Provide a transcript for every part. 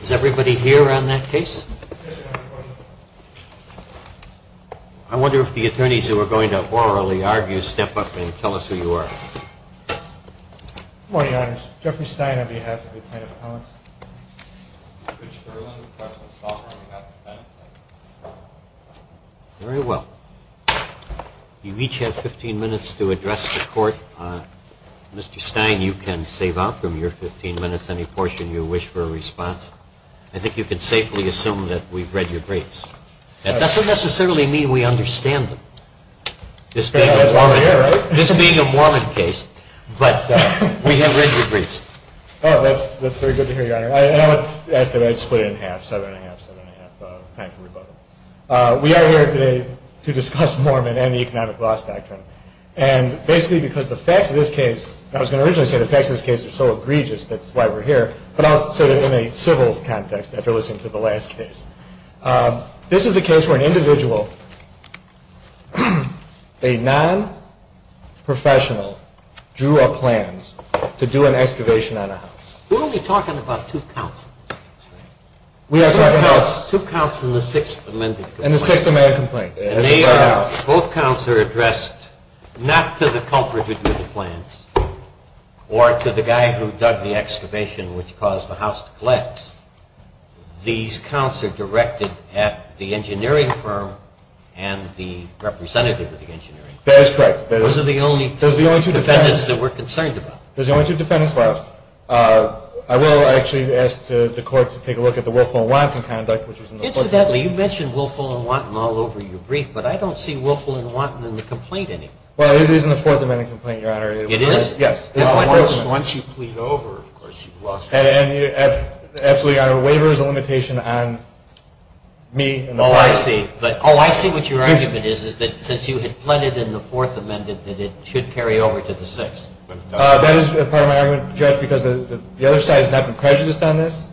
Is everybody here on that case? I wonder if the attorneys who are going to orally argue step up and tell us who you are. Good morning, Your Honors. Jeffrey Stein on behalf of the Department of Appellants. Mr. Fitzgerald on behalf of the Department of Defendants. Very well. You each have 15 minutes to address the court. Mr. Stein, you can save out from your 15 minutes any portion you wish for a response. I think you can safely assume that we've read your briefs. That doesn't necessarily mean we understand them. This being a Mormon case, but we have read your briefs. That's very good to hear, Your Honor. I split it in half. We are here today to discuss Mormon and the Economic Loss Doctrine. And basically because the facts of this case are so egregious, that's why we're here, but also in a civil context after listening to the last case. This is a case where an individual, a non-professional, drew up plans to do an excavation on a house. We're only talking about two counts in this case, right? We are talking about... Two counts in the Sixth Amendment complaint. In the Sixth Amendment complaint. Both counts are addressed not to the culprit who drew the plans or to the guy who dug the excavation which caused the house to collapse. These counts are directed at the engineering firm and the representative of the engineering firm. That is correct. Those are the only two defendants that we're concerned about. Those are the only two defendants left. I will actually ask the court to take a look at the Wilfel and Watten conduct. Incidentally, you mentioned Wilfel and Watten all over your brief, but I don't see Wilfel and Watten in the complaint anymore. Well, it is in the Fourth Amendment complaint, Your Honor. It is? Yes. Once you plead over, of course, you've lost it. Absolutely, Your Honor. Waiver is a limitation on me. Oh, I see. Oh, I see what your argument is, is that since you had pleaded in the Fourth Amendment that it should carry over to the Sixth. That is part of my argument, Judge, because the other side has not been prejudiced on this.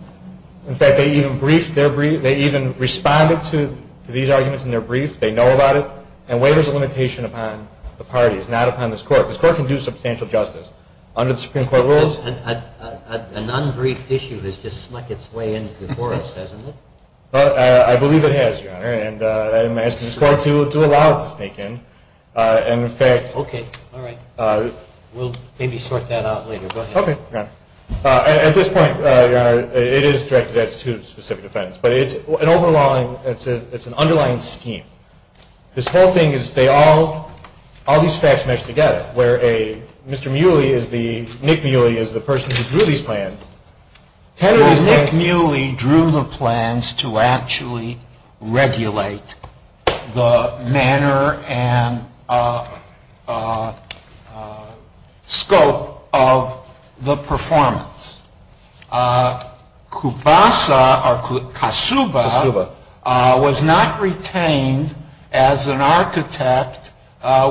In fact, they even briefed their brief. They even responded to these arguments in their brief. They know about it. And waiver is a limitation upon the parties, not upon this court. This court can do substantial justice under the Supreme Court rules. An unbriefed issue has just snuck its way into the forest, hasn't it? I believe it has, Your Honor, and I'm asking this court to allow it to sneak in. Okay, all right. We'll maybe sort that out later. Go ahead. Okay, Your Honor. At this point, Your Honor, it is directed at two specific defendants, but it's an underlying scheme. This whole thing is they all, all these facts mesh together, where a, Mr. Muley is the, Nick Muley is the person who drew these plans. Tenor is that. Nick Muley drew the plans to actually regulate the manner and scope of the performance. Kubasa, or Kasuba, was not retained as an architect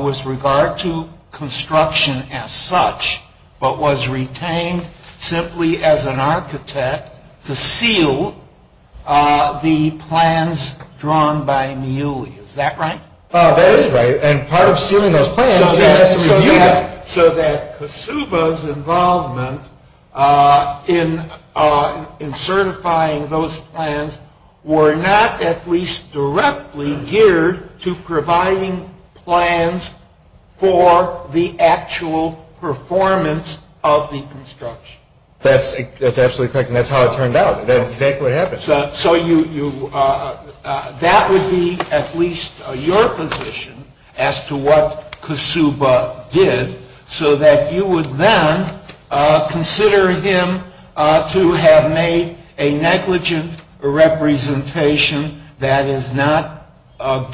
with regard to construction as such, but was retained simply as an architect to seal the plans drawn by Muley. Is that right? That is right. So that Kasuba's involvement in certifying those plans were not at least directly geared to providing plans for the actual performance of the construction. That's absolutely correct, and that's how it turned out. So you, that would be at least your position as to what Kasuba did, so that you would then consider him to have made a negligent representation that is not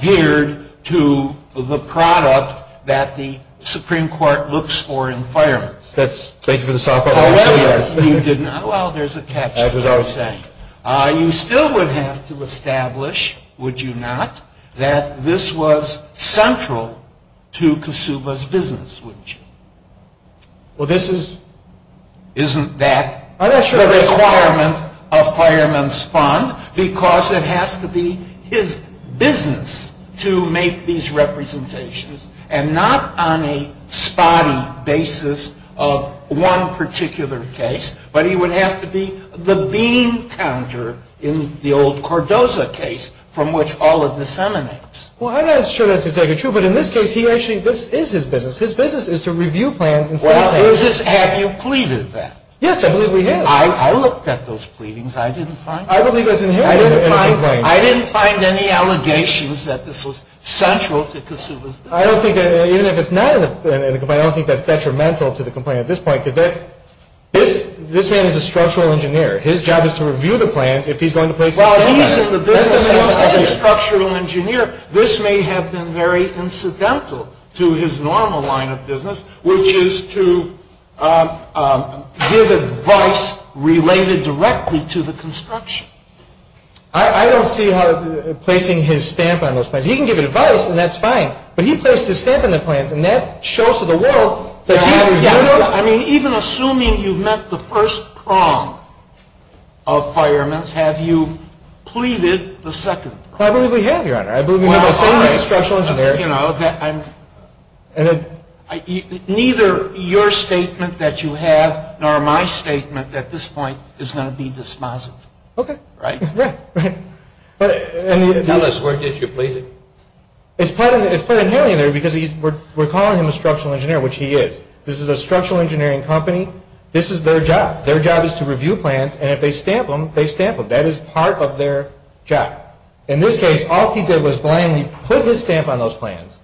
geared to the product that the Supreme Court looks for in firemen. Thank you for the softball question. Well, there's a catch to that. You still would have to establish, would you not, that this was central to Kasuba's business, wouldn't you? Well, this is... Isn't that the requirement of Fireman's Fund? Because it has to be his business to make these representations, and not on a spotty basis of one particular case, but he would have to be the bean counter in the old Cordoza case from which all of this emanates. Well, I'm not sure that's entirely true, but in this case, he actually, this is his business. His business is to review plans instead of... Well, his is, have you pleaded that? Yes, I believe we have. I looked at those pleadings. I didn't find any allegations that this was central to Kasuba's business. I don't think that, even if it's not in the complaint, I don't think that's detrimental to the complaint at this point, because that's, this man is a structural engineer. His job is to review the plans if he's going to place a statement on them. Well, he's in the business of being a structural engineer. This may have been very incidental to his normal line of business, which is to give advice related directly to the construction. I don't see how placing his stamp on those plans. He can give advice, and that's fine, but he placed his stamp on the plans, and that shows to the world that he's... I mean, even assuming you've met the first prong of firemen's, have you pleaded the second prong? I believe we have, Your Honor. I believe we have, assuming he's a structural engineer. Neither your statement that you have nor my statement at this point is going to be dispositive. Okay. Right? Right. Tell us, where did you plead it? It's plain inherent in there, because we're calling him a structural engineer, which he is. This is a structural engineering company. This is their job. Their job is to review plans, and if they stamp them, they stamp them. That is part of their job. In this case, all he did was blindly put his stamp on those plans.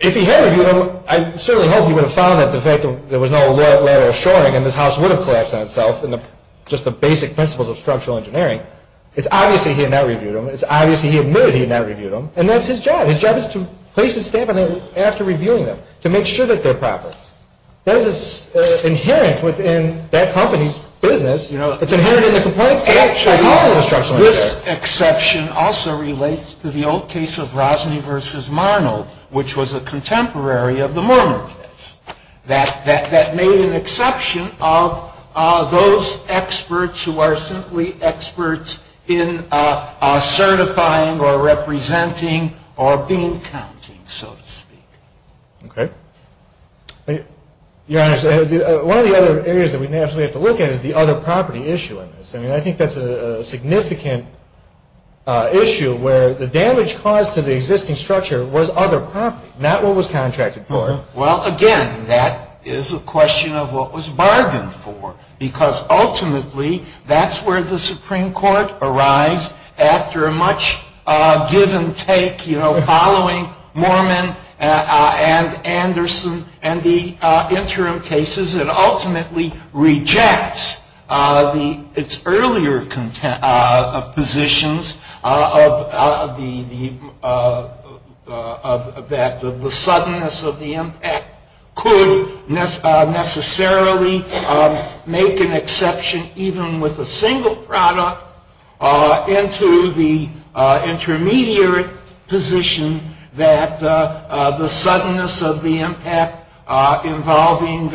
If he had reviewed them, I certainly hope he would have found that there was no letter of assuring, and this house would have collapsed on itself, just the basic principles of structural engineering. It's obvious that he had not reviewed them. It's obvious that he admitted he had not reviewed them, and that's his job. His job is to place his stamp on them after reviewing them to make sure that they're proper. That is inherent within that company's business. It's inherent in the compliance of all the structural engineers. Actually, this exception also relates to the old case of Rosny v. Marnold, which was a contemporary of the Mormon case. That made an exception of those experts who are simply experts in certifying or representing or beam counting, so to speak. Okay. Your Honor, one of the other areas that we may actually have to look at is the other property issue in this. I mean, I think that's a significant issue where the damage caused to the existing structure was other property, not what was contracted for. Well, again, that is a question of what was bargained for, because ultimately that's where the Supreme Court arrives after a much give-and-take, you know, following Mormon and Anderson and the interim cases. It ultimately rejects its earlier positions that the suddenness of the impact could necessarily make an exception, even with a single product, into the intermediary position that the suddenness of the impact involving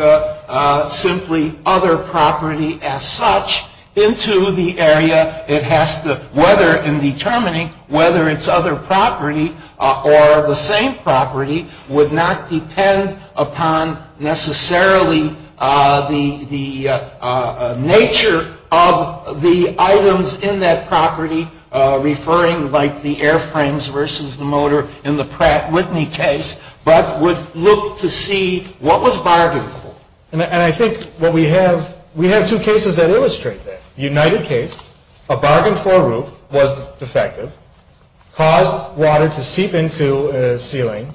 simply other property as such into the area. It has to, whether in determining whether it's other property or the same property, would not depend upon necessarily the nature of the items in that property, referring like the airframes versus the motor in the Pratt Whitney case, but would look to see what was bargained for. And I think what we have, we have two cases that illustrate that. The United case, a bargained-for roof was defective, caused water to seep into a ceiling,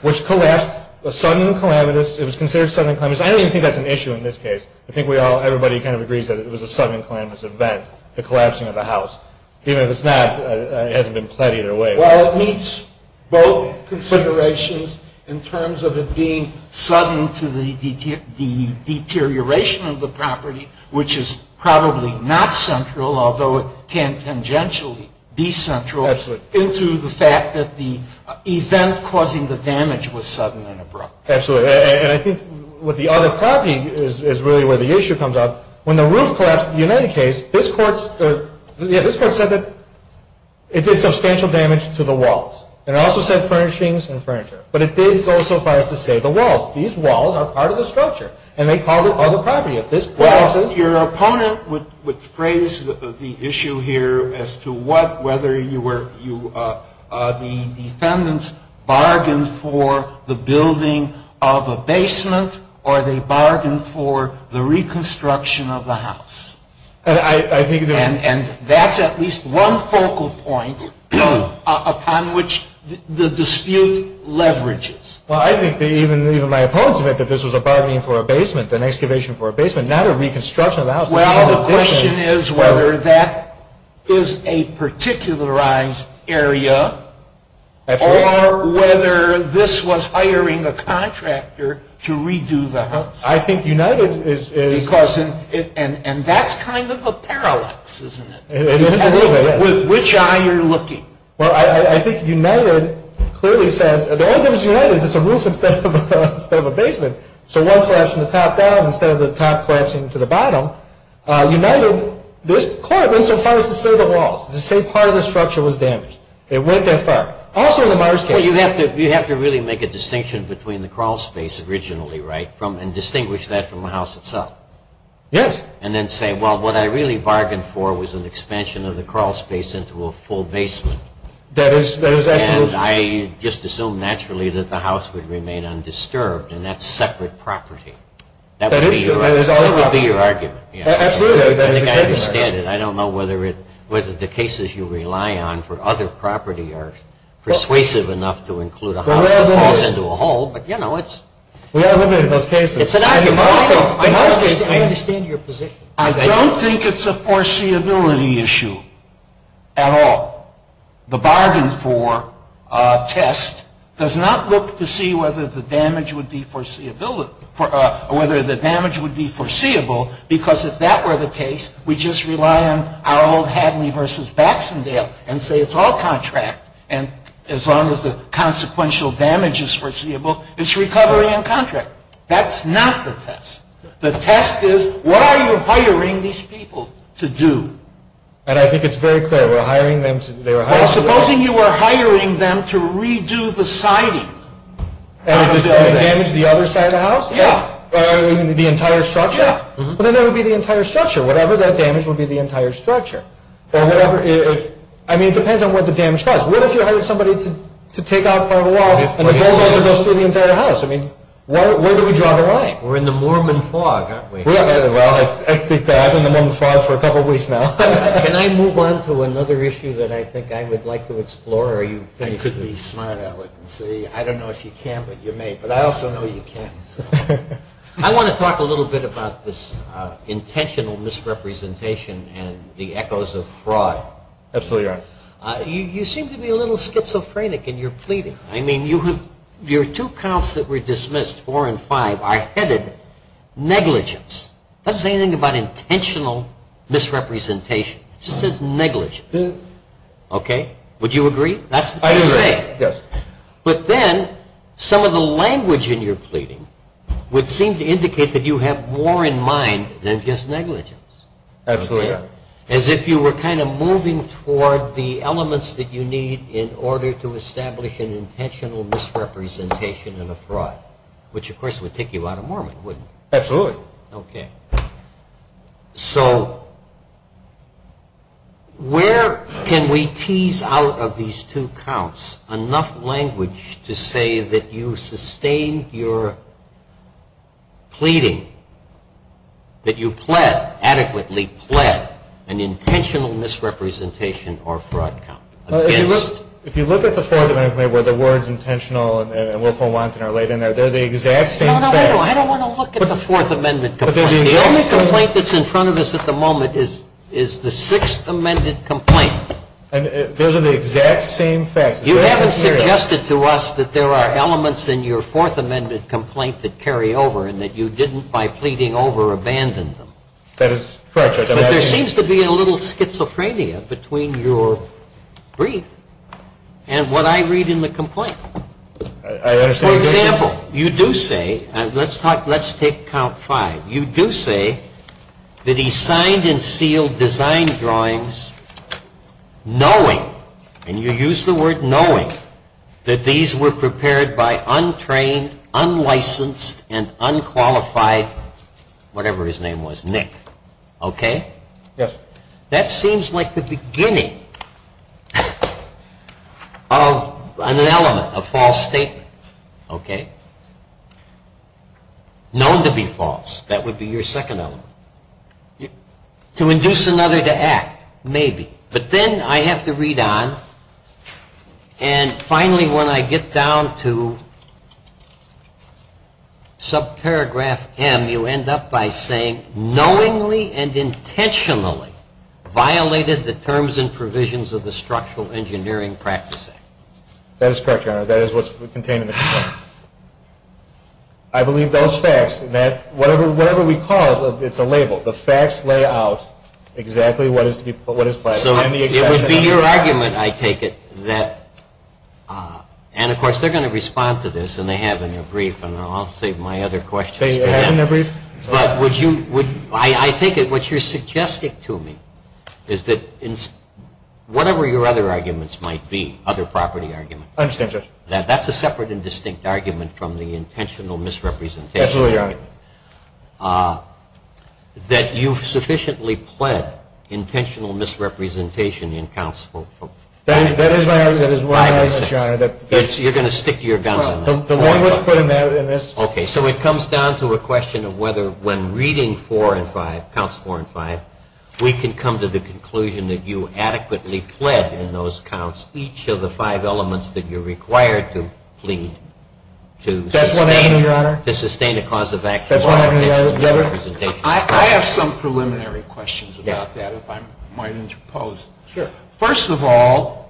which collapsed, a sudden calamitous, it was considered sudden and calamitous. I don't even think that's an issue in this case. I think we all, everybody kind of agrees that it was a sudden and calamitous event, the collapsing of the house. Even if it's not, it hasn't been pled either way. Well, it meets both considerations in terms of it being sudden to the deterioration of the property, which is probably not central, although it can tangentially be central, into the fact that the event causing the damage was sudden and abrupt. Absolutely. And I think with the other property is really where the issue comes up. When the roof collapsed in the United case, this court said that it did substantial damage to the walls. And it also said furnishings and furniture. But it didn't go so far as to say the walls. These walls are part of the structure. And they called it other property. Well, your opponent would phrase the issue here as to what, whether the defendants bargained for the building of a basement or they bargained for the reconstruction of the house. And that's at least one focal point upon which the dispute leverages. Well, I think even my opponents think that this was a bargaining for a basement, an excavation for a basement, not a reconstruction of the house. Well, the question is whether that is a particularized area or whether this was hiring a contractor to redo the house. I think United is. And that's kind of a parallax, isn't it? It is a little bit, yes. With which eye you're looking. Well, I think United clearly says, the only difference is United is it's a roof instead of a basement. So one collapsed from the top down instead of the top collapsing to the bottom. United, this court went so far as to say the walls. The same part of the structure was damaged. It went that far. Also in the Myers case. Well, you have to really make a distinction between the crawlspace originally, right, and distinguish that from the house itself. Yes. And then say, well, what I really bargained for was an expansion of the crawlspace into a full basement. That is absolutely true. And I just assume naturally that the house would remain undisturbed and that's separate property. That would be your argument. Absolutely. I don't know whether the cases you rely on for other property are persuasive enough to include a house that falls into a hole. But, you know, it's an argument. I understand your position. I don't think it's a foreseeability issue at all. The bargain for a test does not look to see whether the damage would be foreseeable because if that were the case, we'd just rely on our old Hadley v. Baxendale and say it's all contract. And as long as the consequential damage is foreseeable, it's recovery and contract. That's not the test. The test is what are you hiring these people to do? And I think it's very clear. We're hiring them to do. Well, supposing you were hiring them to redo the siding. And damage the other side of the house? Yeah. The entire structure? Well, then that would be the entire structure. Whatever that damage would be, the entire structure. I mean, it depends on what the damage caused. What if you hired somebody to take out part of the wall and the bulldozer goes through the entire house? I mean, where do we draw the line? We're in the Mormon fog, aren't we? Well, I think I've been in the Mormon fog for a couple of weeks now. Can I move on to another issue that I think I would like to explore? You could be smart, Alec, and say, I don't know if you can, but you may. But I also know you can. I want to talk a little bit about this intentional misrepresentation and the echoes of fraud. Absolutely right. You seem to be a little schizophrenic in your pleading. I mean, your two counts that were dismissed, four and five, are headed negligence. That doesn't say anything about intentional misrepresentation. It just says negligence. Okay? Would you agree? I do agree. Yes. But then some of the language in your pleading would seem to indicate that you have more in mind than just negligence. Absolutely. As if you were kind of moving toward the elements that you need in order to establish an intentional misrepresentation and a fraud, which, of course, would take you out of Mormon, wouldn't it? Absolutely. Okay. So where can we tease out of these two counts enough language to say that you sustained your pleading, that you adequately pled an intentional misrepresentation or fraud count? If you look at the Fourth Amendment where the words intentional and willful wanton are laid in there, they're the exact same thing. No, no, no. I don't want to look at the Fourth Amendment complaint. The only complaint that's in front of us at the moment is the Sixth Amendment complaint. Those are the exact same facts. You haven't suggested to us that there are elements in your Fourth Amendment complaint that carry over and that you didn't, by pleading over, abandon them. That is correct, Judge. But there seems to be a little schizophrenia between your brief and what I read in the complaint. I understand. For example, you do say, let's take count five. You do say that he signed and sealed design drawings knowing, and you use the word knowing, that these were prepared by untrained, unlicensed, and unqualified whatever his name was, Nick. Okay? Yes. That seems like the beginning of an element, a false statement, okay? Known to be false, that would be your second element. To induce another to act, maybe. But then I have to read on, and finally when I get down to subparagraph M, you end up by saying, knowingly and intentionally violated the terms and provisions of the Structural Engineering Practice Act. That is correct, Your Honor. That is what's contained in the complaint. I believe those facts, whatever we call it, it's a label. The facts lay out exactly what is to be put, what is filed. So it would be your argument, I take it, that, and of course they're going to respond to this, and they have in their brief, and I'll save my other questions for them. They have in their brief. But would you, I think what you're suggesting to me is that whatever your other arguments might be, other property arguments. I understand, Judge. That's a separate and distinct argument from the intentional misrepresentation. Absolutely, Your Honor. That you've sufficiently pled intentional misrepresentation in counsel. That is my argument, Your Honor. You're going to stick to your guns on that? The one that's put in this. Okay. So it comes down to a question of whether when reading four and five, counts four and five, we can come to the conclusion that you adequately pled in those counts each of the five elements that you're required to plead to sustain a cause of active misrepresentation. I have some preliminary questions about that, if I might interpose. Sure. First of all,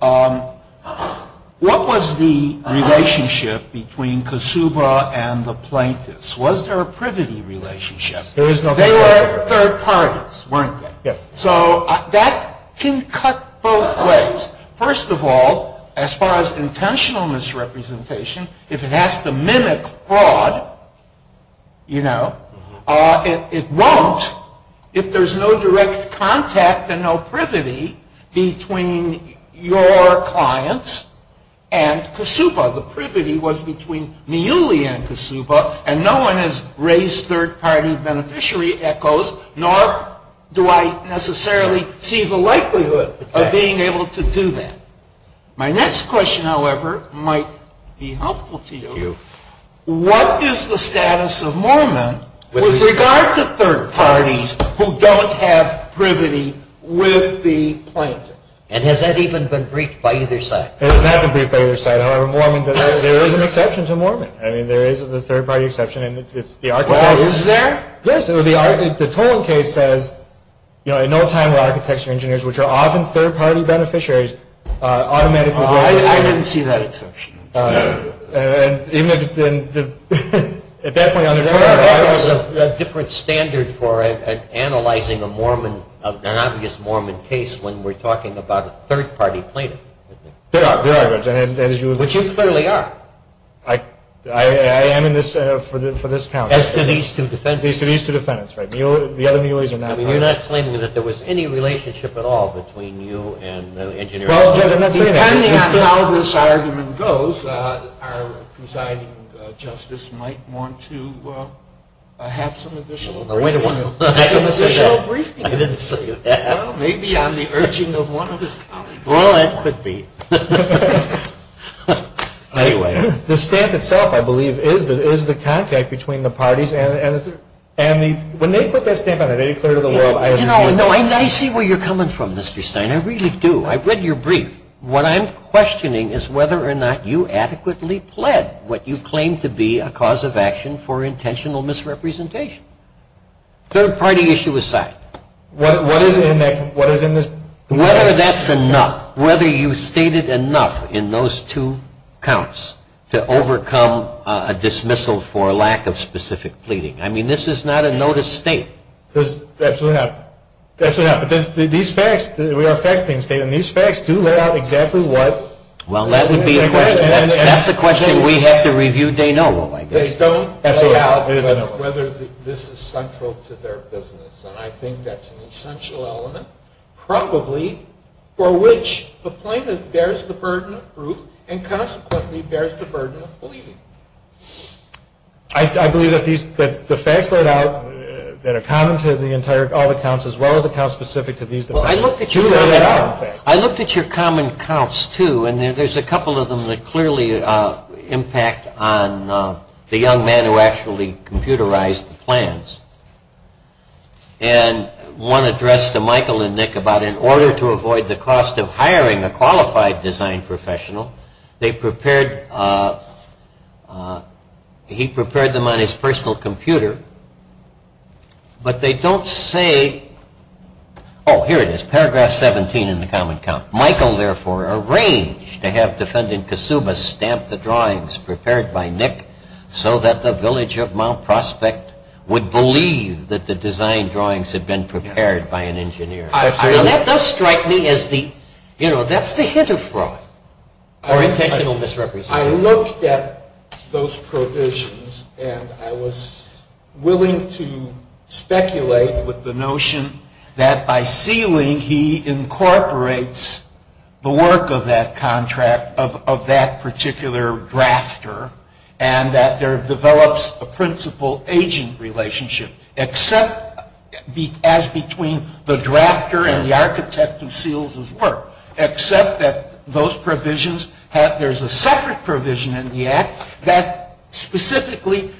what was the relationship between Kasuba and the plaintiffs? Was there a privity relationship? There is no privity. They were third parties, weren't they? Yes. So that can cut both ways. First of all, as far as intentional misrepresentation, if it has to mimic fraud, you know, it won't. If there's no direct contact and no privity between your clients and Kasuba. The privity was between Miuli and Kasuba, and no one has raised third-party beneficiary echoes, nor do I necessarily see the likelihood of being able to do that. My next question, however, might be helpful to you. Thank you. What is the status of Mormon with regard to third parties who don't have privity with the plaintiffs? And has that even been briefed by either side? It has not been briefed by either side. However, there is an exception to Mormon. I mean, there is a third-party exception, and it's the architects. Well, is there? Yes. The Tolan case says, you know, in no time were architecture engineers, which are often third-party beneficiaries, automatically. I didn't see that exception. And even at that point on the trial, there was a different standard for analyzing a Mormon, an obvious Mormon case when we're talking about a third-party plaintiff. There are. Which you clearly are. I am in this for this count. As to these two defendants. As to these two defendants, right. The other Miuli's are not part of it. I mean, you're not claiming that there was any relationship at all between you and the engineer? Well, Judge, I'm not saying that. Depending on how this argument goes, our presiding justice might want to have some additional briefing. Wait a minute. I didn't say that. Well, maybe on the urging of one of his colleagues. Well, it could be. Anyway, the stamp itself, I believe, is the contact between the parties. And when they put that stamp on it, they declare to the world. You know, I see where you're coming from, Mr. Stein. I really do. I've read your brief. What I'm questioning is whether or not you adequately pled what you claim to be a cause of action for intentional misrepresentation. Third-party issue aside. What is in this? Whether that's enough. Whether you stated enough in those two counts to overcome a dismissal for lack of specific pleading. I mean, this is not a notice state. Absolutely not. Absolutely not. But these facts, we are fact-painting statement. These facts do lay out exactly what. Well, that would be a question. That's a question we have to review day and night. They don't lay out whether this is central to their business. And I think that's an essential element, probably, for which the plaintiff bears the burden of proof and consequently bears the burden of pleading. I believe that the facts laid out that are common to all the counts as well as the counts specific to these defendants do lay out the facts. I looked at your common counts, too, and there's a couple of them that clearly impact on the young man who actually computerized the plans. And one addressed to Michael and Nick about in order to avoid the cost of hiring a qualified design professional, they prepared, he prepared them on his personal computer. But they don't say, oh, here it is, paragraph 17 in the common count. Michael, therefore, arranged to have defendant Kasuba stamp the drawings prepared by Nick so that the village of Mount Prospect would believe that the design drawings had been prepared by an engineer. Now, that does strike me as the, you know, that's the hint of fraud or intentional misrepresentation. I looked at those provisions, and I was willing to speculate with the notion that by sealing, he incorporates the work of that contract, of that particular drafter, and that there develops a principal-agent relationship except as between the drafter and the architect who seals his work. Except that those provisions have, there's a separate provision in the act that specifically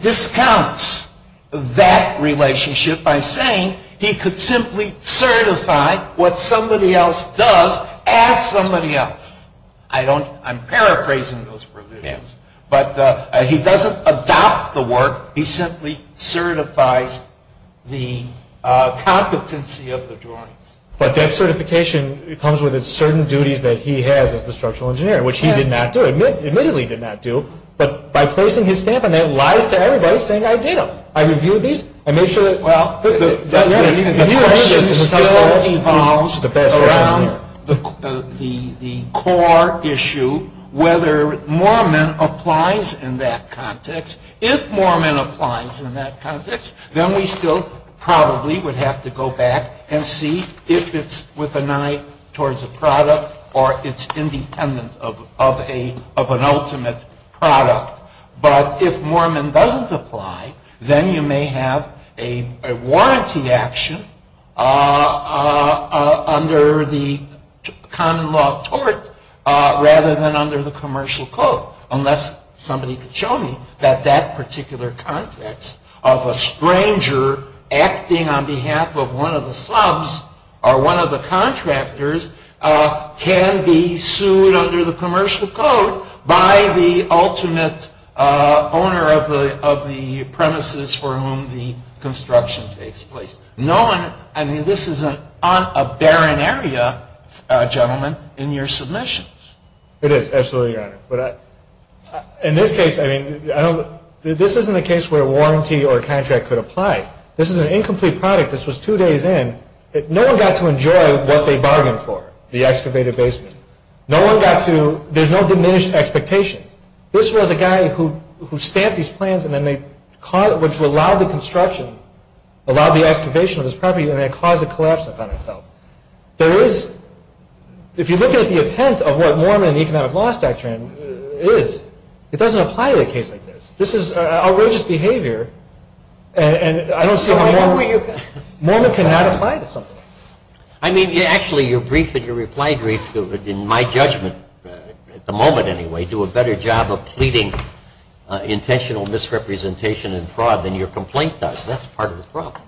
discounts that relationship by saying he could simply certify what somebody else does as somebody else. I don't, I'm paraphrasing those provisions. But he doesn't adopt the work. He simply certifies the competency of the drawings. But that certification comes with its certain duties that he has as the structural engineer, which he did not do, admittedly did not do, but by placing his stamp on that lies to everybody saying I did them. I reviewed these. Well, the question still evolves around the core issue whether Moorman applies in that context. If Moorman applies in that context, then we still probably would have to go back and see if it's with an eye towards a product or it's independent of an ultimate product. But if Moorman doesn't apply, then you may have a warranty action under the common law of tort rather than under the commercial code. Unless somebody could show me that that particular context of a stranger acting on behalf of one of the subs or one of the contractors can be sued under the commercial code by the ultimate owner of the premises for whom the construction takes place. No one, I mean, this is a barren area, gentlemen, in your submissions. It is, absolutely, Your Honor. But in this case, I mean, this isn't a case where a warranty or a contract could apply. This is an incomplete product. This was two days in. No one got to enjoy what they bargained for, the excavated basement. No one got to, there's no diminished expectations. This was a guy who stamped these plans and then they, which would allow the construction, allow the excavation of this property, and it caused a collapse upon itself. There is, if you look at the intent of what Moorman and the economic law doctrine is, it doesn't apply to a case like this. This is outrageous behavior. And I don't see why Moorman cannot apply to something. I mean, actually, your brief and your reply brief, in my judgment, at the moment anyway, do a better job of pleading intentional misrepresentation and fraud than your complaint does. That's part of the problem.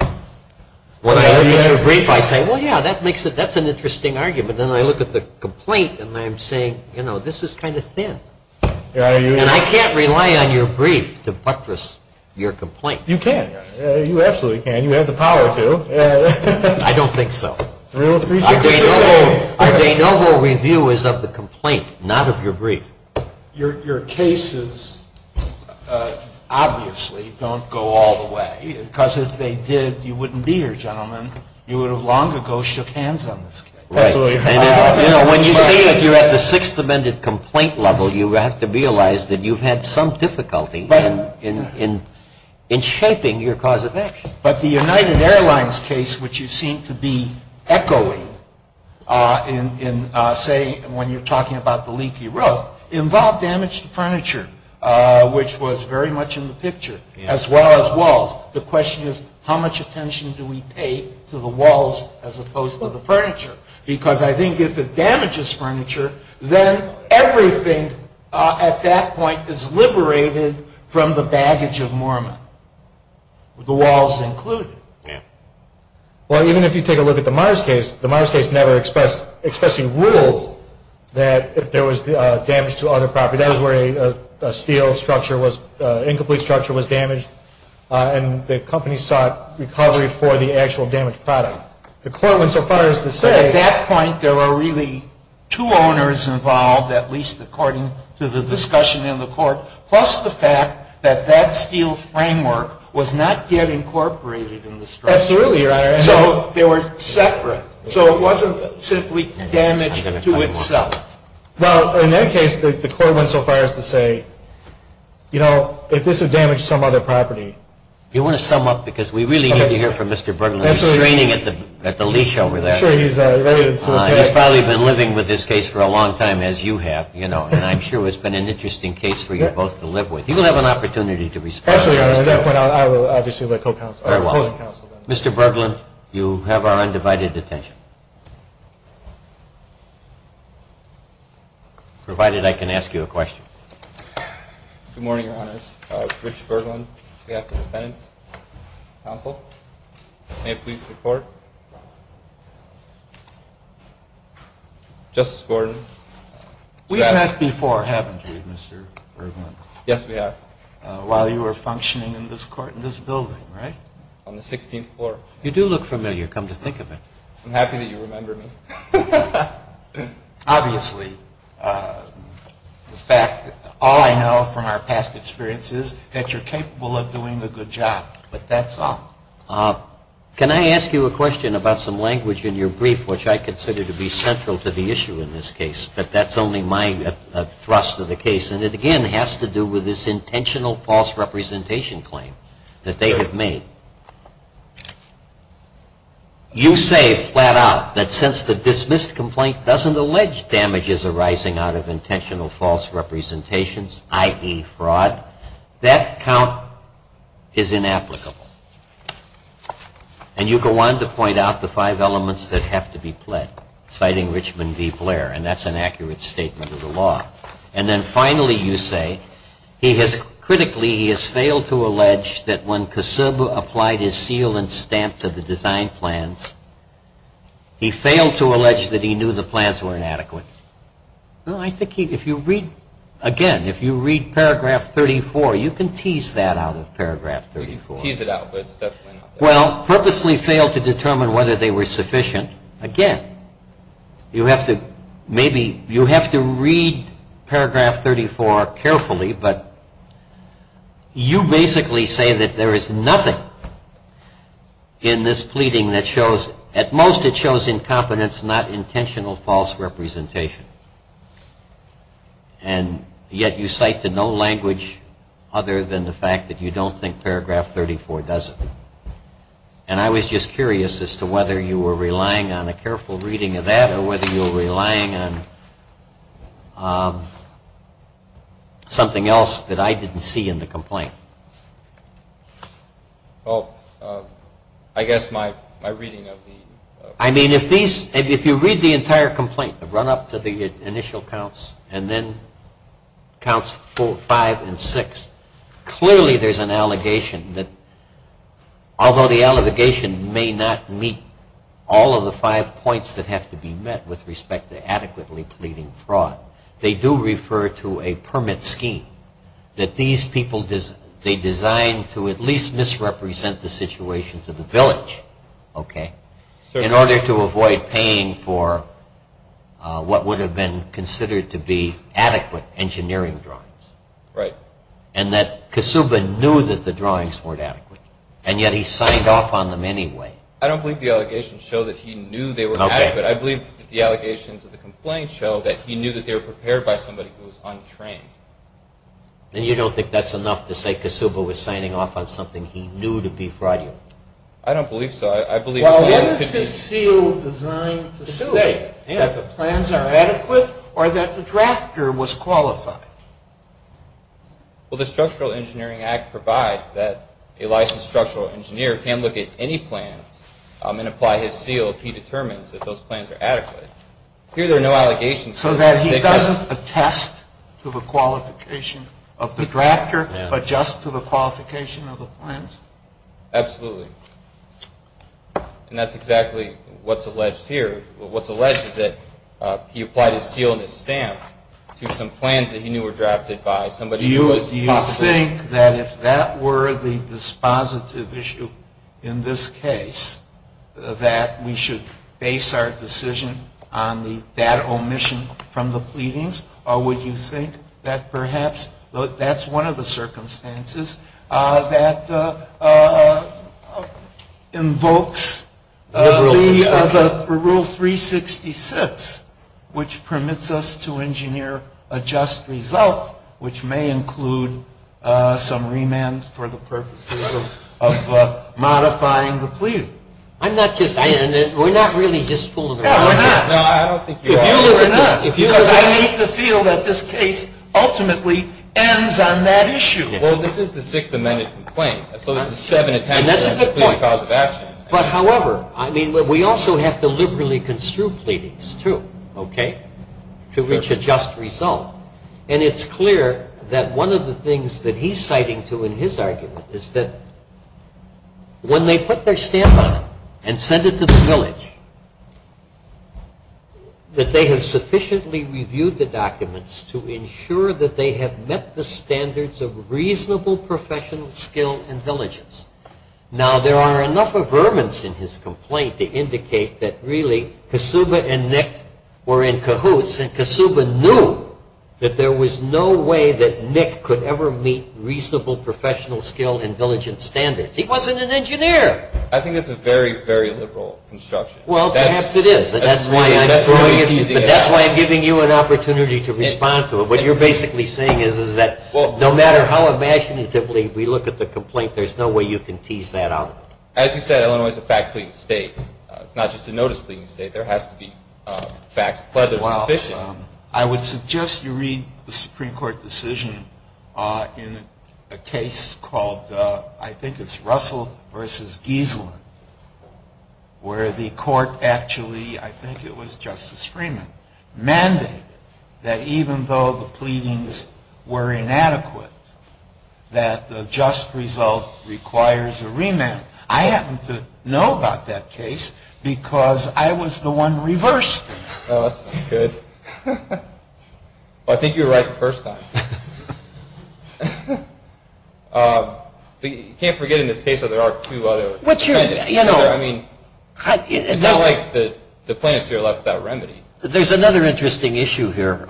When I look at your brief, I say, well, yeah, that's an interesting argument. And I look at the complaint and I'm saying, you know, this is kind of thin. And I can't rely on your brief to buttress your complaint. You can. You absolutely can. You have the power to. I don't think so. Our de novo review is of the complaint, not of your brief. Your cases obviously don't go all the way, because if they did, you wouldn't be here, gentlemen. You would have long ago shook hands on this case. When you say that you're at the Sixth Amendment complaint level, you have to realize that you've had some difficulty in shaping your cause of action. But the United Airlines case, which you seem to be echoing in, say, when you're talking about the leaky roof, involved damaged furniture, which was very much in the picture, as well as walls. The question is, how much attention do we pay to the walls as opposed to the furniture? Because I think if it damages furniture, then everything at that point is liberated from the baggage of Mormon, the walls included. Well, even if you take a look at the Mars case, the Mars case never expressed, expressing rules that if there was damage to other property, that is where a steel structure was, incomplete structure was damaged. And the company sought recovery for the actual damaged product. The court went so far as to say... But at that point, there were really two owners involved, at least according to the discussion in the court, plus the fact that that steel framework was not yet incorporated in the structure. Absolutely, Your Honor. So they were separate. So it wasn't simply damage to itself. Well, in that case, the court went so far as to say, you know, if this would damage some other property... Do you want to sum up? Because we really need to hear from Mr. Berglund. He's straining at the leash over there. I'm sure he's ready to... He's probably been living with this case for a long time, as you have, you know. And I'm sure it's been an interesting case for you both to live with. You will have an opportunity to respond. Absolutely, Your Honor. At that point, I will obviously let co-counsel... Very well. Mr. Berglund, you have our undivided attention. Provided I can ask you a question. Good morning, Your Honors. Rich Berglund. We have the defendant's counsel. May it please the Court. Justice Gordon. We have met before, haven't we, Mr. Berglund? Yes, we have. While you were functioning in this building, right? On the 16th floor. You do look familiar. Come to think of it. I'm happy that you remember me. Obviously. In fact, all I know from our past experiences is that you're capable of doing a good job. But that's all. Can I ask you a question about some language in your brief, which I consider to be central to the issue in this case? But that's only my thrust of the case. And it, again, has to do with this intentional false representation claim that they have made. You say, flat out, that since the dismissed complaint doesn't allege damages arising out of intentional false representations, i.e., fraud, that count is inapplicable. And you go on to point out the five elements that have to be pled, citing Richmond v. Blair. And that's an accurate statement of the law. And then, finally, you say, he has critically, he has failed to allege that when Kossub applied for the death penalty, he applied his seal and stamp to the design plans. He failed to allege that he knew the plans were inadequate. I think if you read, again, if you read paragraph 34, you can tease that out of paragraph 34. You can tease it out, but it's definitely not there. Well, purposely failed to determine whether they were sufficient. Again, you have to maybe, you have to read paragraph 34 carefully. But you basically say that there is nothing in this pleading that shows, at most, it shows incompetence, not intentional false representation. And yet you cite to no language other than the fact that you don't think paragraph 34 does it. And I was just curious as to whether you were relying on a careful reading of that or whether you were relying on something else that I didn't see in the complaint. Well, I guess my reading of the... I mean, if these, if you read the entire complaint, the run-up to the initial counts, and then counts four, five, and six, clearly there's an allegation that, although the allegation may not meet all of the five points that have to be met with respect to adequately pleading fraud, they do refer to a permit scheme that these people, they designed to at least misrepresent the situation to the village, okay, in order to avoid paying for what would have been considered to be adequate engineering drawings. Right. And that Kasuba knew that the drawings weren't adequate. And yet he signed off on them anyway. I don't believe the allegations show that he knew they were adequate. I believe that the allegations of the complaint show that he knew that they were prepared by somebody who was untrained. Then you don't think that's enough to say Kasuba was signing off on something he knew to be fraudulent? I don't believe so. I believe... Is his seal designed to state that the plans are adequate or that the drafter was qualified? Well, the Structural Engineering Act provides that a licensed structural engineer can look at any plans and apply his seal if he determines that those plans are adequate. Here there are no allegations. So that he doesn't attest to the qualification of the drafter but just to the qualification of the plans? Absolutely. And that's exactly what's alleged here. What's alleged is that he applied his seal and his stamp to some plans that he knew were drafted by somebody who was possibly... Do you think that if that were the dispositive issue in this case that we should base our decision on that omission from the pleadings? Or would you think that perhaps that's one of the circumstances that invokes the Rule 366, which permits us to engineer a just result, which may include some remand for the purposes of modifying the plea. I'm not just... We're not really just pulling... Yeah, we're not. No, I don't think you are. Because I need to feel that this case ultimately ends on that issue. Well, this is the Sixth Amendment complaint. So this is seven attempts... And that's a good point. ...to plead a cause of action. But however, I mean, we also have to liberally construe pleadings too, okay, to reach a just result. And it's clear that one of the things that he's citing too in his argument is that when they put their stamp on it and sent it to the village, that they have sufficiently reviewed the documents to ensure that they have met the standards of reasonable professional skill and diligence. Now, there are enough averments in his complaint to indicate that really Kasuba and Nick were in cahoots, and Kasuba knew that there was no way that Nick could ever meet reasonable professional skill and diligence standards. He wasn't an engineer. I think that's a very, very liberal construction. Well, perhaps it is. That's why I'm giving you an opportunity to respond to it. What you're basically saying is that no matter how imaginatively we look at the complaint, there's no way you can tease that out. As you said, Illinois is a fact-pleading state. It's not just a notice-pleading state. There has to be facts whether sufficient. I would suggest you read the Supreme Court decision in a case called, I think it's Russell v. Gieselin, where the court actually, I think it was Justice Freeman, mandated that even though the pleadings were inadequate, that the just result requires a remand. I happen to know about that case because I was the one reversed it. Oh, that's not good. I think you were right the first time. You can't forget in this case that there are two other defendants. I mean, it's not like the plaintiffs here left without remedy. There's another interesting issue here.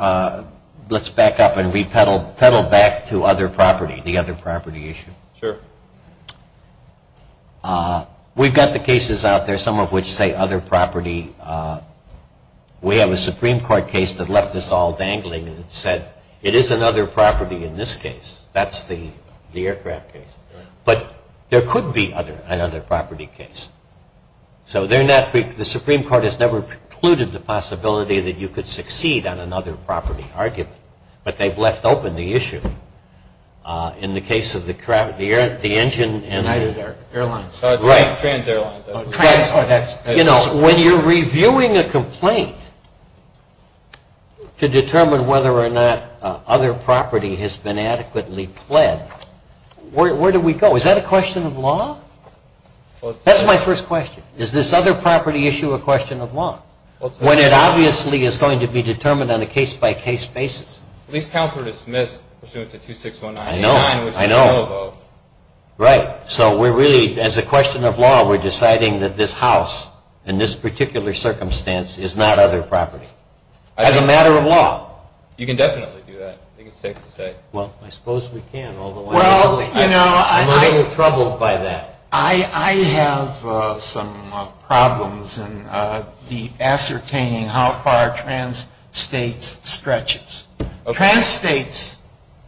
Let's back up and peddle back to other property, the other property issue. Sure. We've got the cases out there, some of which say other property. We have a Supreme Court case that left us all dangling and said it is another property in this case. That's the aircraft case. But there could be another property case. So the Supreme Court has never precluded the possibility that you could succeed on another property argument. But they've left open the issue. In the case of the engine. Airlines. Right. Trans Airlines. You know, when you're reviewing a complaint to determine whether or not other property has been adequately pled, where do we go? Is that a question of law? That's my first question. Is this other property issue a question of law when it obviously is going to be determined on a case-by-case basis? At least counsel are dismissed pursuant to 2619. I know. Right. So we're really, as a question of law, we're deciding that this house in this particular circumstance is not other property. As a matter of law. You can definitely do that. I think it's safe to say. Well, I suppose we can, although I'm a little troubled by that. I have some problems in ascertaining how far Trans States stretches. Trans States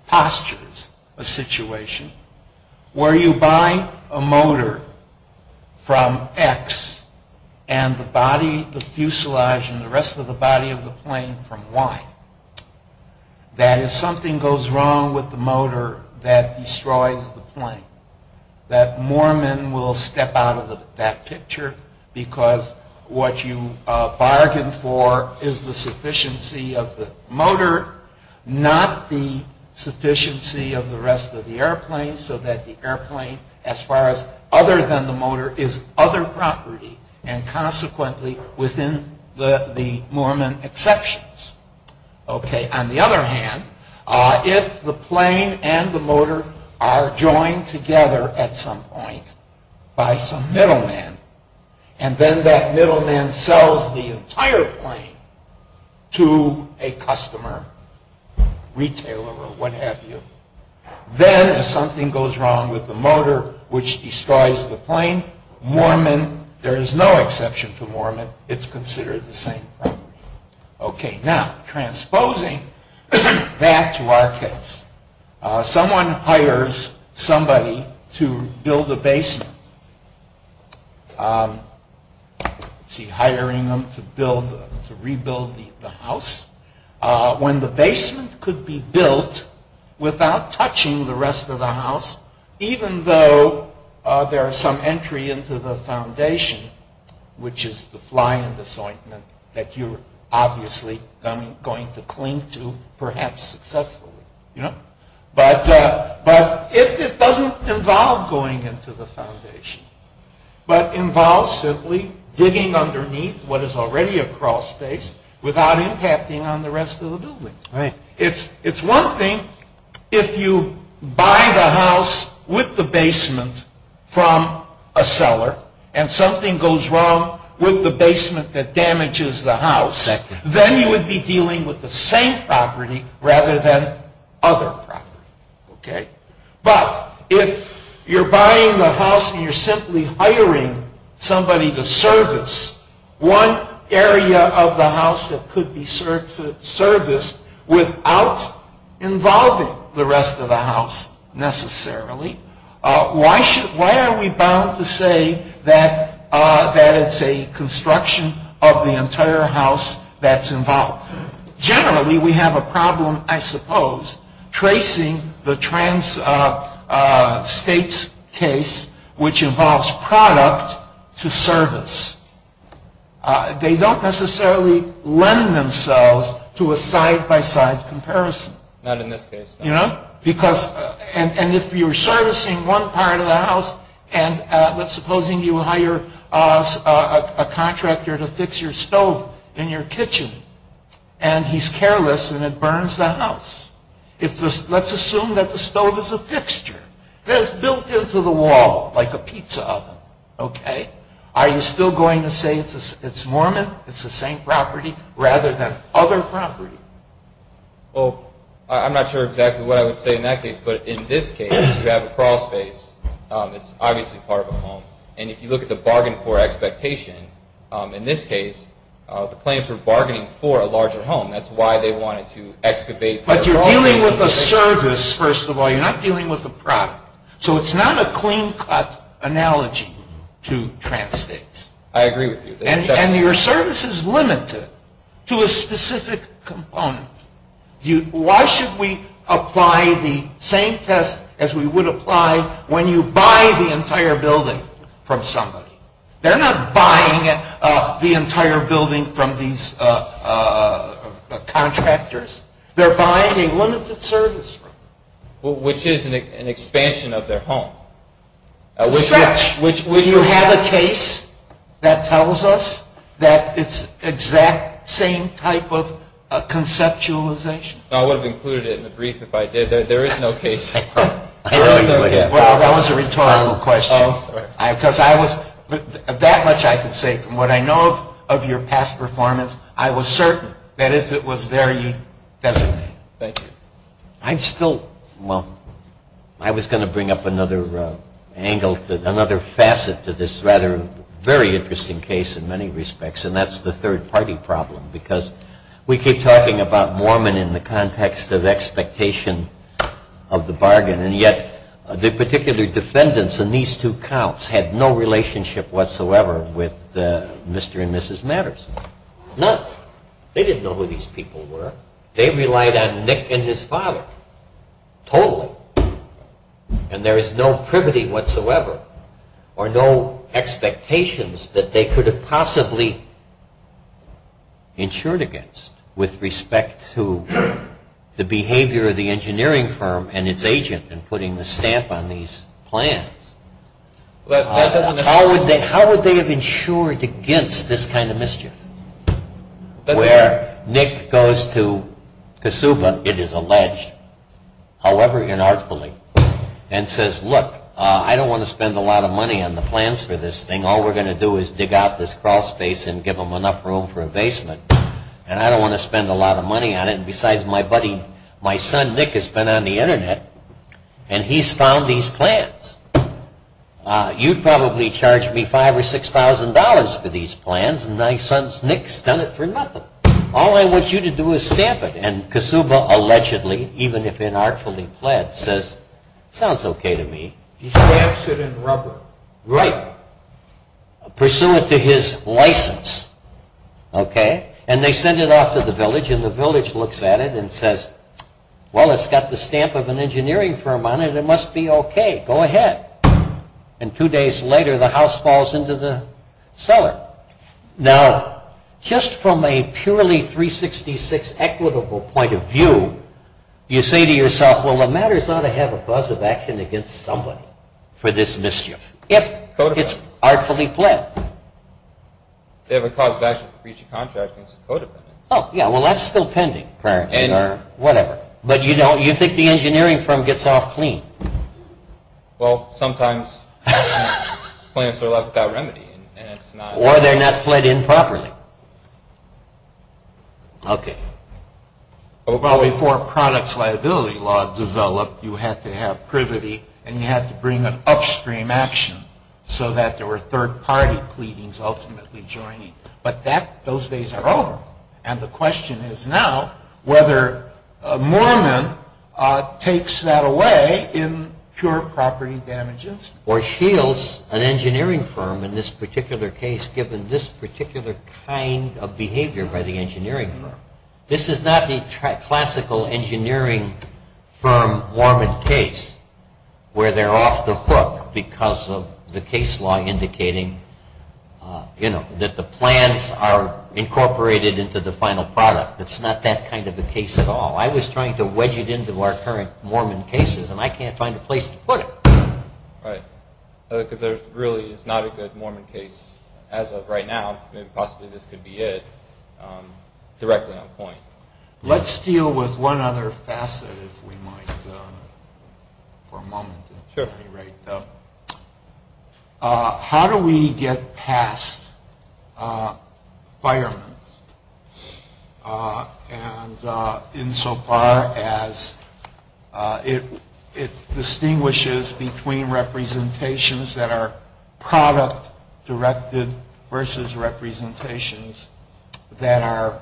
postures a situation where you buy a motor from X and the fuselage and the rest of the body of the plane from Y. That is something goes wrong with the motor that destroys the plane. That Moorman will step out of that picture because what you bargain for is the sufficiency of the motor, not the sufficiency of the rest of the airplane. So that the airplane, as far as other than the motor, is other property and consequently within the Moorman exceptions. Okay. On the other hand, if the plane and the motor are joined together at some point by some middleman and then that middleman sells the entire plane to a customer, retailer or what have you. Then if something goes wrong with the motor which destroys the plane, Moorman, there is no exception to Moorman. It's considered the same property. Okay. Now, transposing that to our case. Someone hires somebody to build a basement. See, hiring them to rebuild the house. When the basement could be built without touching the rest of the house, even though there is some entry into the foundation, which is the fly-in disjointment that you're obviously going to cling to perhaps successfully. But if it doesn't involve going into the foundation, but involves simply digging underneath what is already a crawl space without impacting on the rest of the building. Right. It's one thing if you buy the house with the basement from a seller and something goes wrong with the basement that damages the house. Then you would be dealing with the same property rather than other property. Okay. But if you're buying the house and you're simply hiring somebody to service one area of the house that could be serviced without involving the rest of the house necessarily, why are we bound to say that it's a construction of the entire house that's involved? Generally, we have a problem, I suppose, tracing the trans-states case, which involves product to service. They don't necessarily lend themselves to a side-by-side comparison. Not in this case. And if you're servicing one part of the house and let's suppose you hire a contractor to fix your stove in your kitchen and he's careless and it burns the house. Let's assume that the stove is a fixture that is built into the wall like a pizza oven. Are you still going to say it's Mormon, it's the same property, rather than other property? Well, I'm not sure exactly what I would say in that case. But in this case, you have a crawl space. It's obviously part of a home. And if you look at the bargain for expectation, in this case, the plaintiffs were bargaining for a larger home. That's why they wanted to excavate. But you're dealing with a service, first of all. You're not dealing with a product. So it's not a clean-cut analogy to trans-states. I agree with you. And your service is limited to a specific component. Why should we apply the same test as we would apply when you buy the entire building from somebody? They're not buying the entire building from these contractors. They're buying a limited service room. Which is an expansion of their home. Stretch. Do you have a case that tells us that it's the exact same type of conceptualization? I would have included it in the brief if I did. There is no case. That was a rhetorical question. Because that much I could say from what I know of your past performance, I was certain that if it was there, you'd designate it. Thank you. I'm still, well, I was going to bring up another angle, another facet to this rather very interesting case in many respects. And that's the third-party problem. Because we keep talking about Mormon in the context of expectation of the bargain. And yet the particular defendants in these two counts had no relationship whatsoever with Mr. and Mrs. Matterson. None. They didn't know who these people were. They relied on Nick and his father. Totally. And there is no privity whatsoever or no expectations that they could have possibly insured against with respect to the behavior of the engineering firm and its agent in putting the stamp on these plans. How would they have insured against this kind of mischief? Where Nick goes to Kasuba, it is alleged, however inartfully, and says, look, I don't want to spend a lot of money on the plans for this thing. All we're going to do is dig out this crawl space and give them enough room for a basement. And I don't want to spend a lot of money on it. And besides, my buddy, my son Nick has been on the Internet, and he's found these plans. You'd probably charge me $5,000 or $6,000 for these plans. And my son Nick's done it for nothing. All I want you to do is stamp it. And Kasuba allegedly, even if inartfully pled, says, sounds okay to me. He stamps it in rubber. Right. Pursue it to his license. Okay. And they send it off to the village, and the village looks at it and says, well, it's got the stamp of an engineering firm on it. It must be okay. Go ahead. And two days later, the house falls into the cellar. Now, just from a purely 366 equitable point of view, you say to yourself, well, the matter's ought to have a cause of action against somebody for this mischief, if it's artfully pled. They have a cause of action for breach of contract against a codependent. Oh, yeah. Well, that's still pending, apparently, or whatever. But you think the engineering firm gets off clean. Well, sometimes plans are left without remedy. Or they're not pled in properly. Okay. Well, before products liability law developed, you had to have privity, and you had to bring an upstream action so that there were third-party pleadings ultimately joining. But those days are over. And the question is now whether Moorman takes that away in pure property damages. Or shields an engineering firm in this particular case, given this particular kind of behavior by the engineering firm. This is not the classical engineering firm Moorman case, where they're off the hook because of the case law indicating, you know, that the plans are incorporated into the final product. It's not that kind of a case at all. I was trying to wedge it into our current Moorman cases, and I can't find a place to put it. Right. Because there really is not a good Moorman case as of right now. Possibly this could be it directly on point. Let's deal with one other facet, if we might, for a moment. Sure. At any rate, though, how do we get past firemen? And insofar as it distinguishes between representations that are product-directed versus representations that are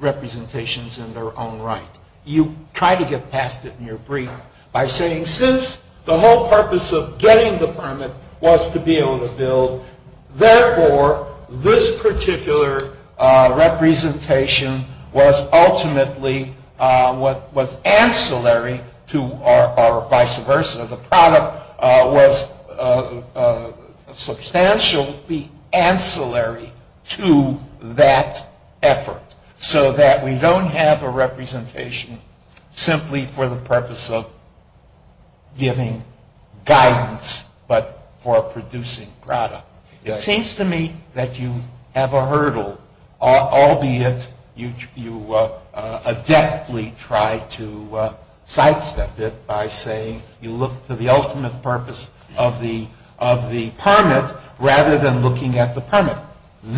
representations in their own right. You try to get past it in your brief by saying, since the whole purpose of getting the permit was to be able to build, therefore this particular representation was ultimately what was ancillary to or vice versa. The product was substantially ancillary to that effort, so that we don't have a representation simply for the purpose of giving guidance but for producing product. It seems to me that you have a hurdle, albeit you adeptly try to sidestep it by saying you look to the ultimate purpose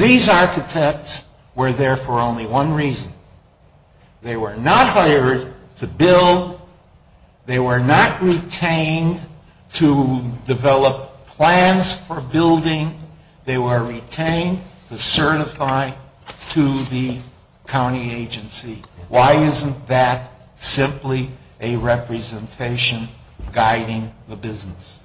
These architects were there for only one reason. They were not hired to build. They were not retained to develop plans for building. They were retained to certify to the county agency. Why isn't that simply a representation guiding the business?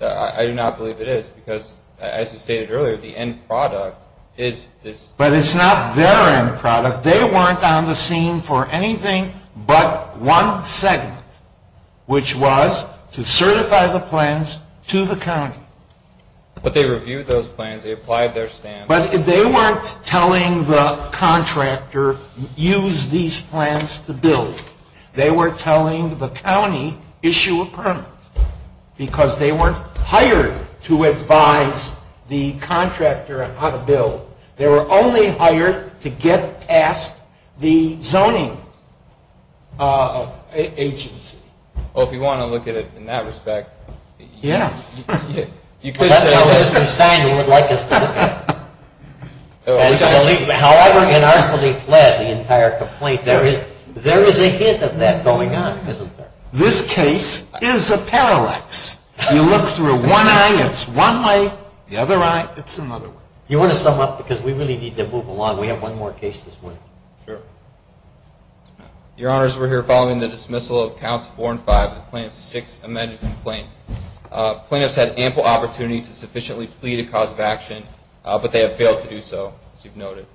I do not believe it is because, as you stated earlier, the end product is this. But it's not their end product. They weren't on the scene for anything but one segment, which was to certify the plans to the county. But they reviewed those plans. They applied their standards. But they weren't telling the contractor, use these plans to build. They were telling the county, issue a permit, because they weren't hired to advise the contractor on how to build. They were only hired to get past the zoning agency. Well, if you want to look at it in that respect. Yeah. That's how Mr. Stein would like us to look at it. However inarticulately fled the entire complaint, there is a hint of that going on, isn't there? This case is a parallax. You look through one eye, it's one way. The other eye, it's another way. You want to sum up? Because we really need to move along. We have one more case this morning. Sure. Your Honors, we're here following the dismissal of counts four and five of the plaintiff's sixth amended complaint. Plaintiffs had ample opportunity to sufficiently flee the cause of action, but they have failed to do so, as you've noted.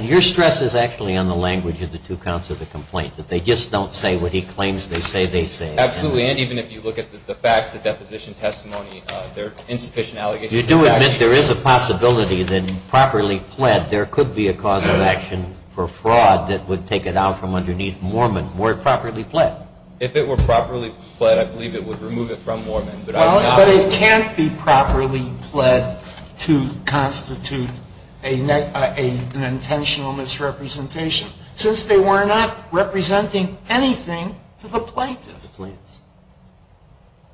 Your stress is actually on the language of the two counts of the complaint, that they just don't say what he claims they say they say. Absolutely, and even if you look at the facts, the deposition testimony, there are insufficient allegations. You do admit there is a possibility that, properly pled, there could be a cause of action for fraud that would take it out from underneath Moorman. Were it properly pled? If it were properly pled, I believe it would remove it from Moorman. Well, but it can't be properly pled to constitute an intentional misrepresentation, since they were not representing anything to the plaintiff. The plaintiffs.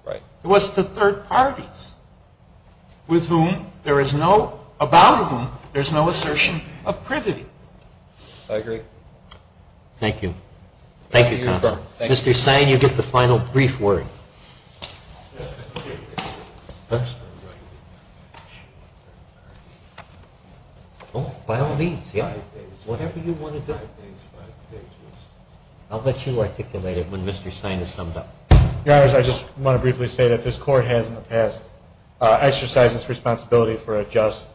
Right. It was to third parties, with whom there is no, about whom there is no assertion of privity. I agree. Thank you. Thank you, counsel. Mr. Stein, you get the final brief word. Thank you. Oh, by all means, yeah. Whatever you want to do. I'll let you articulate it when Mr. Stein is summed up. Your Honors, I just want to briefly say that this Court has, in the past, exercised its responsibility for a just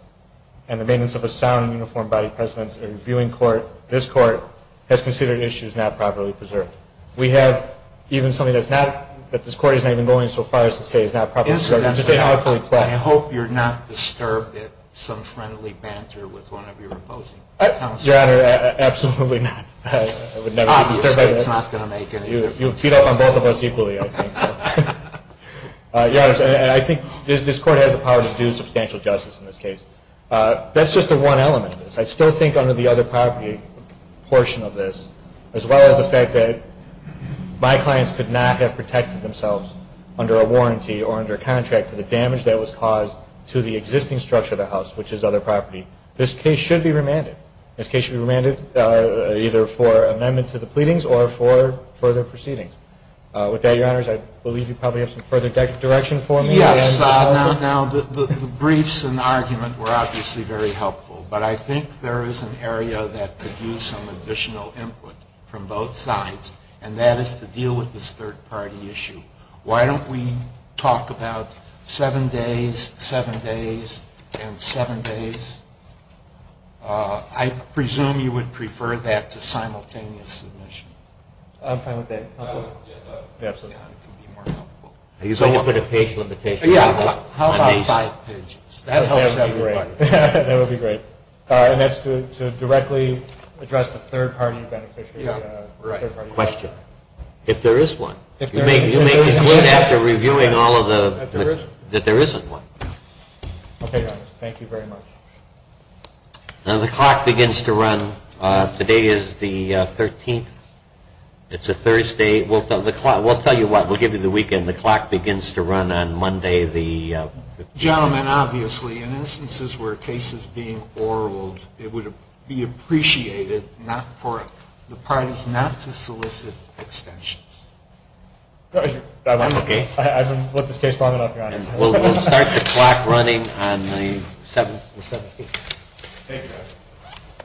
and the maintenance of a sound and uniform body of precedence in a reviewing court. This Court has considered issues not properly preserved. We have even something that this Court is not even going so far as to say is not properly preserved. Incidentally, I hope you're not disturbed at some friendly banter with one of your opposing counsel. Your Honor, absolutely not. Obviously, it's not going to make any difference. You'll feed off on both of us equally, I think. Your Honors, I think this Court has the power to do substantial justice in this case. That's just the one element of this. I still think under the other property portion of this, as well as the fact that my clients could not have protected themselves under a warranty or under a contract for the damage that was caused to the existing structure of the house, which is other property, this case should be remanded. This case should be remanded either for amendment to the pleadings or for further proceedings. With that, Your Honors, I believe you probably have some further direction for me. Yes. The briefs and argument were obviously very helpful, but I think there is an area that could use some additional input from both sides, and that is to deal with this third-party issue. Why don't we talk about seven days, seven days, and seven days? I presume you would prefer that to simultaneous submission. I'm fine with that. Absolutely. It would be more helpful. Are you going to put a page limitation on these? Yes. How about five pages? That helps everybody. That would be great. And that's to directly address the third-party beneficiary? Yes. Right. Question. If there is one. You may conclude after reviewing all of the… That there isn't one. That there isn't one. Okay, Your Honors. Thank you very much. The clock begins to run. Today is the 13th. It's a Thursday. We'll tell you what. We'll give you the weekend. The clock begins to run on Monday, the 15th. Gentlemen, obviously, in instances where a case is being oraled, it would be appreciated for the parties not to solicit extensions. I've been with this case long enough, Your Honors. We'll start the clock running on the 17th. Thank you.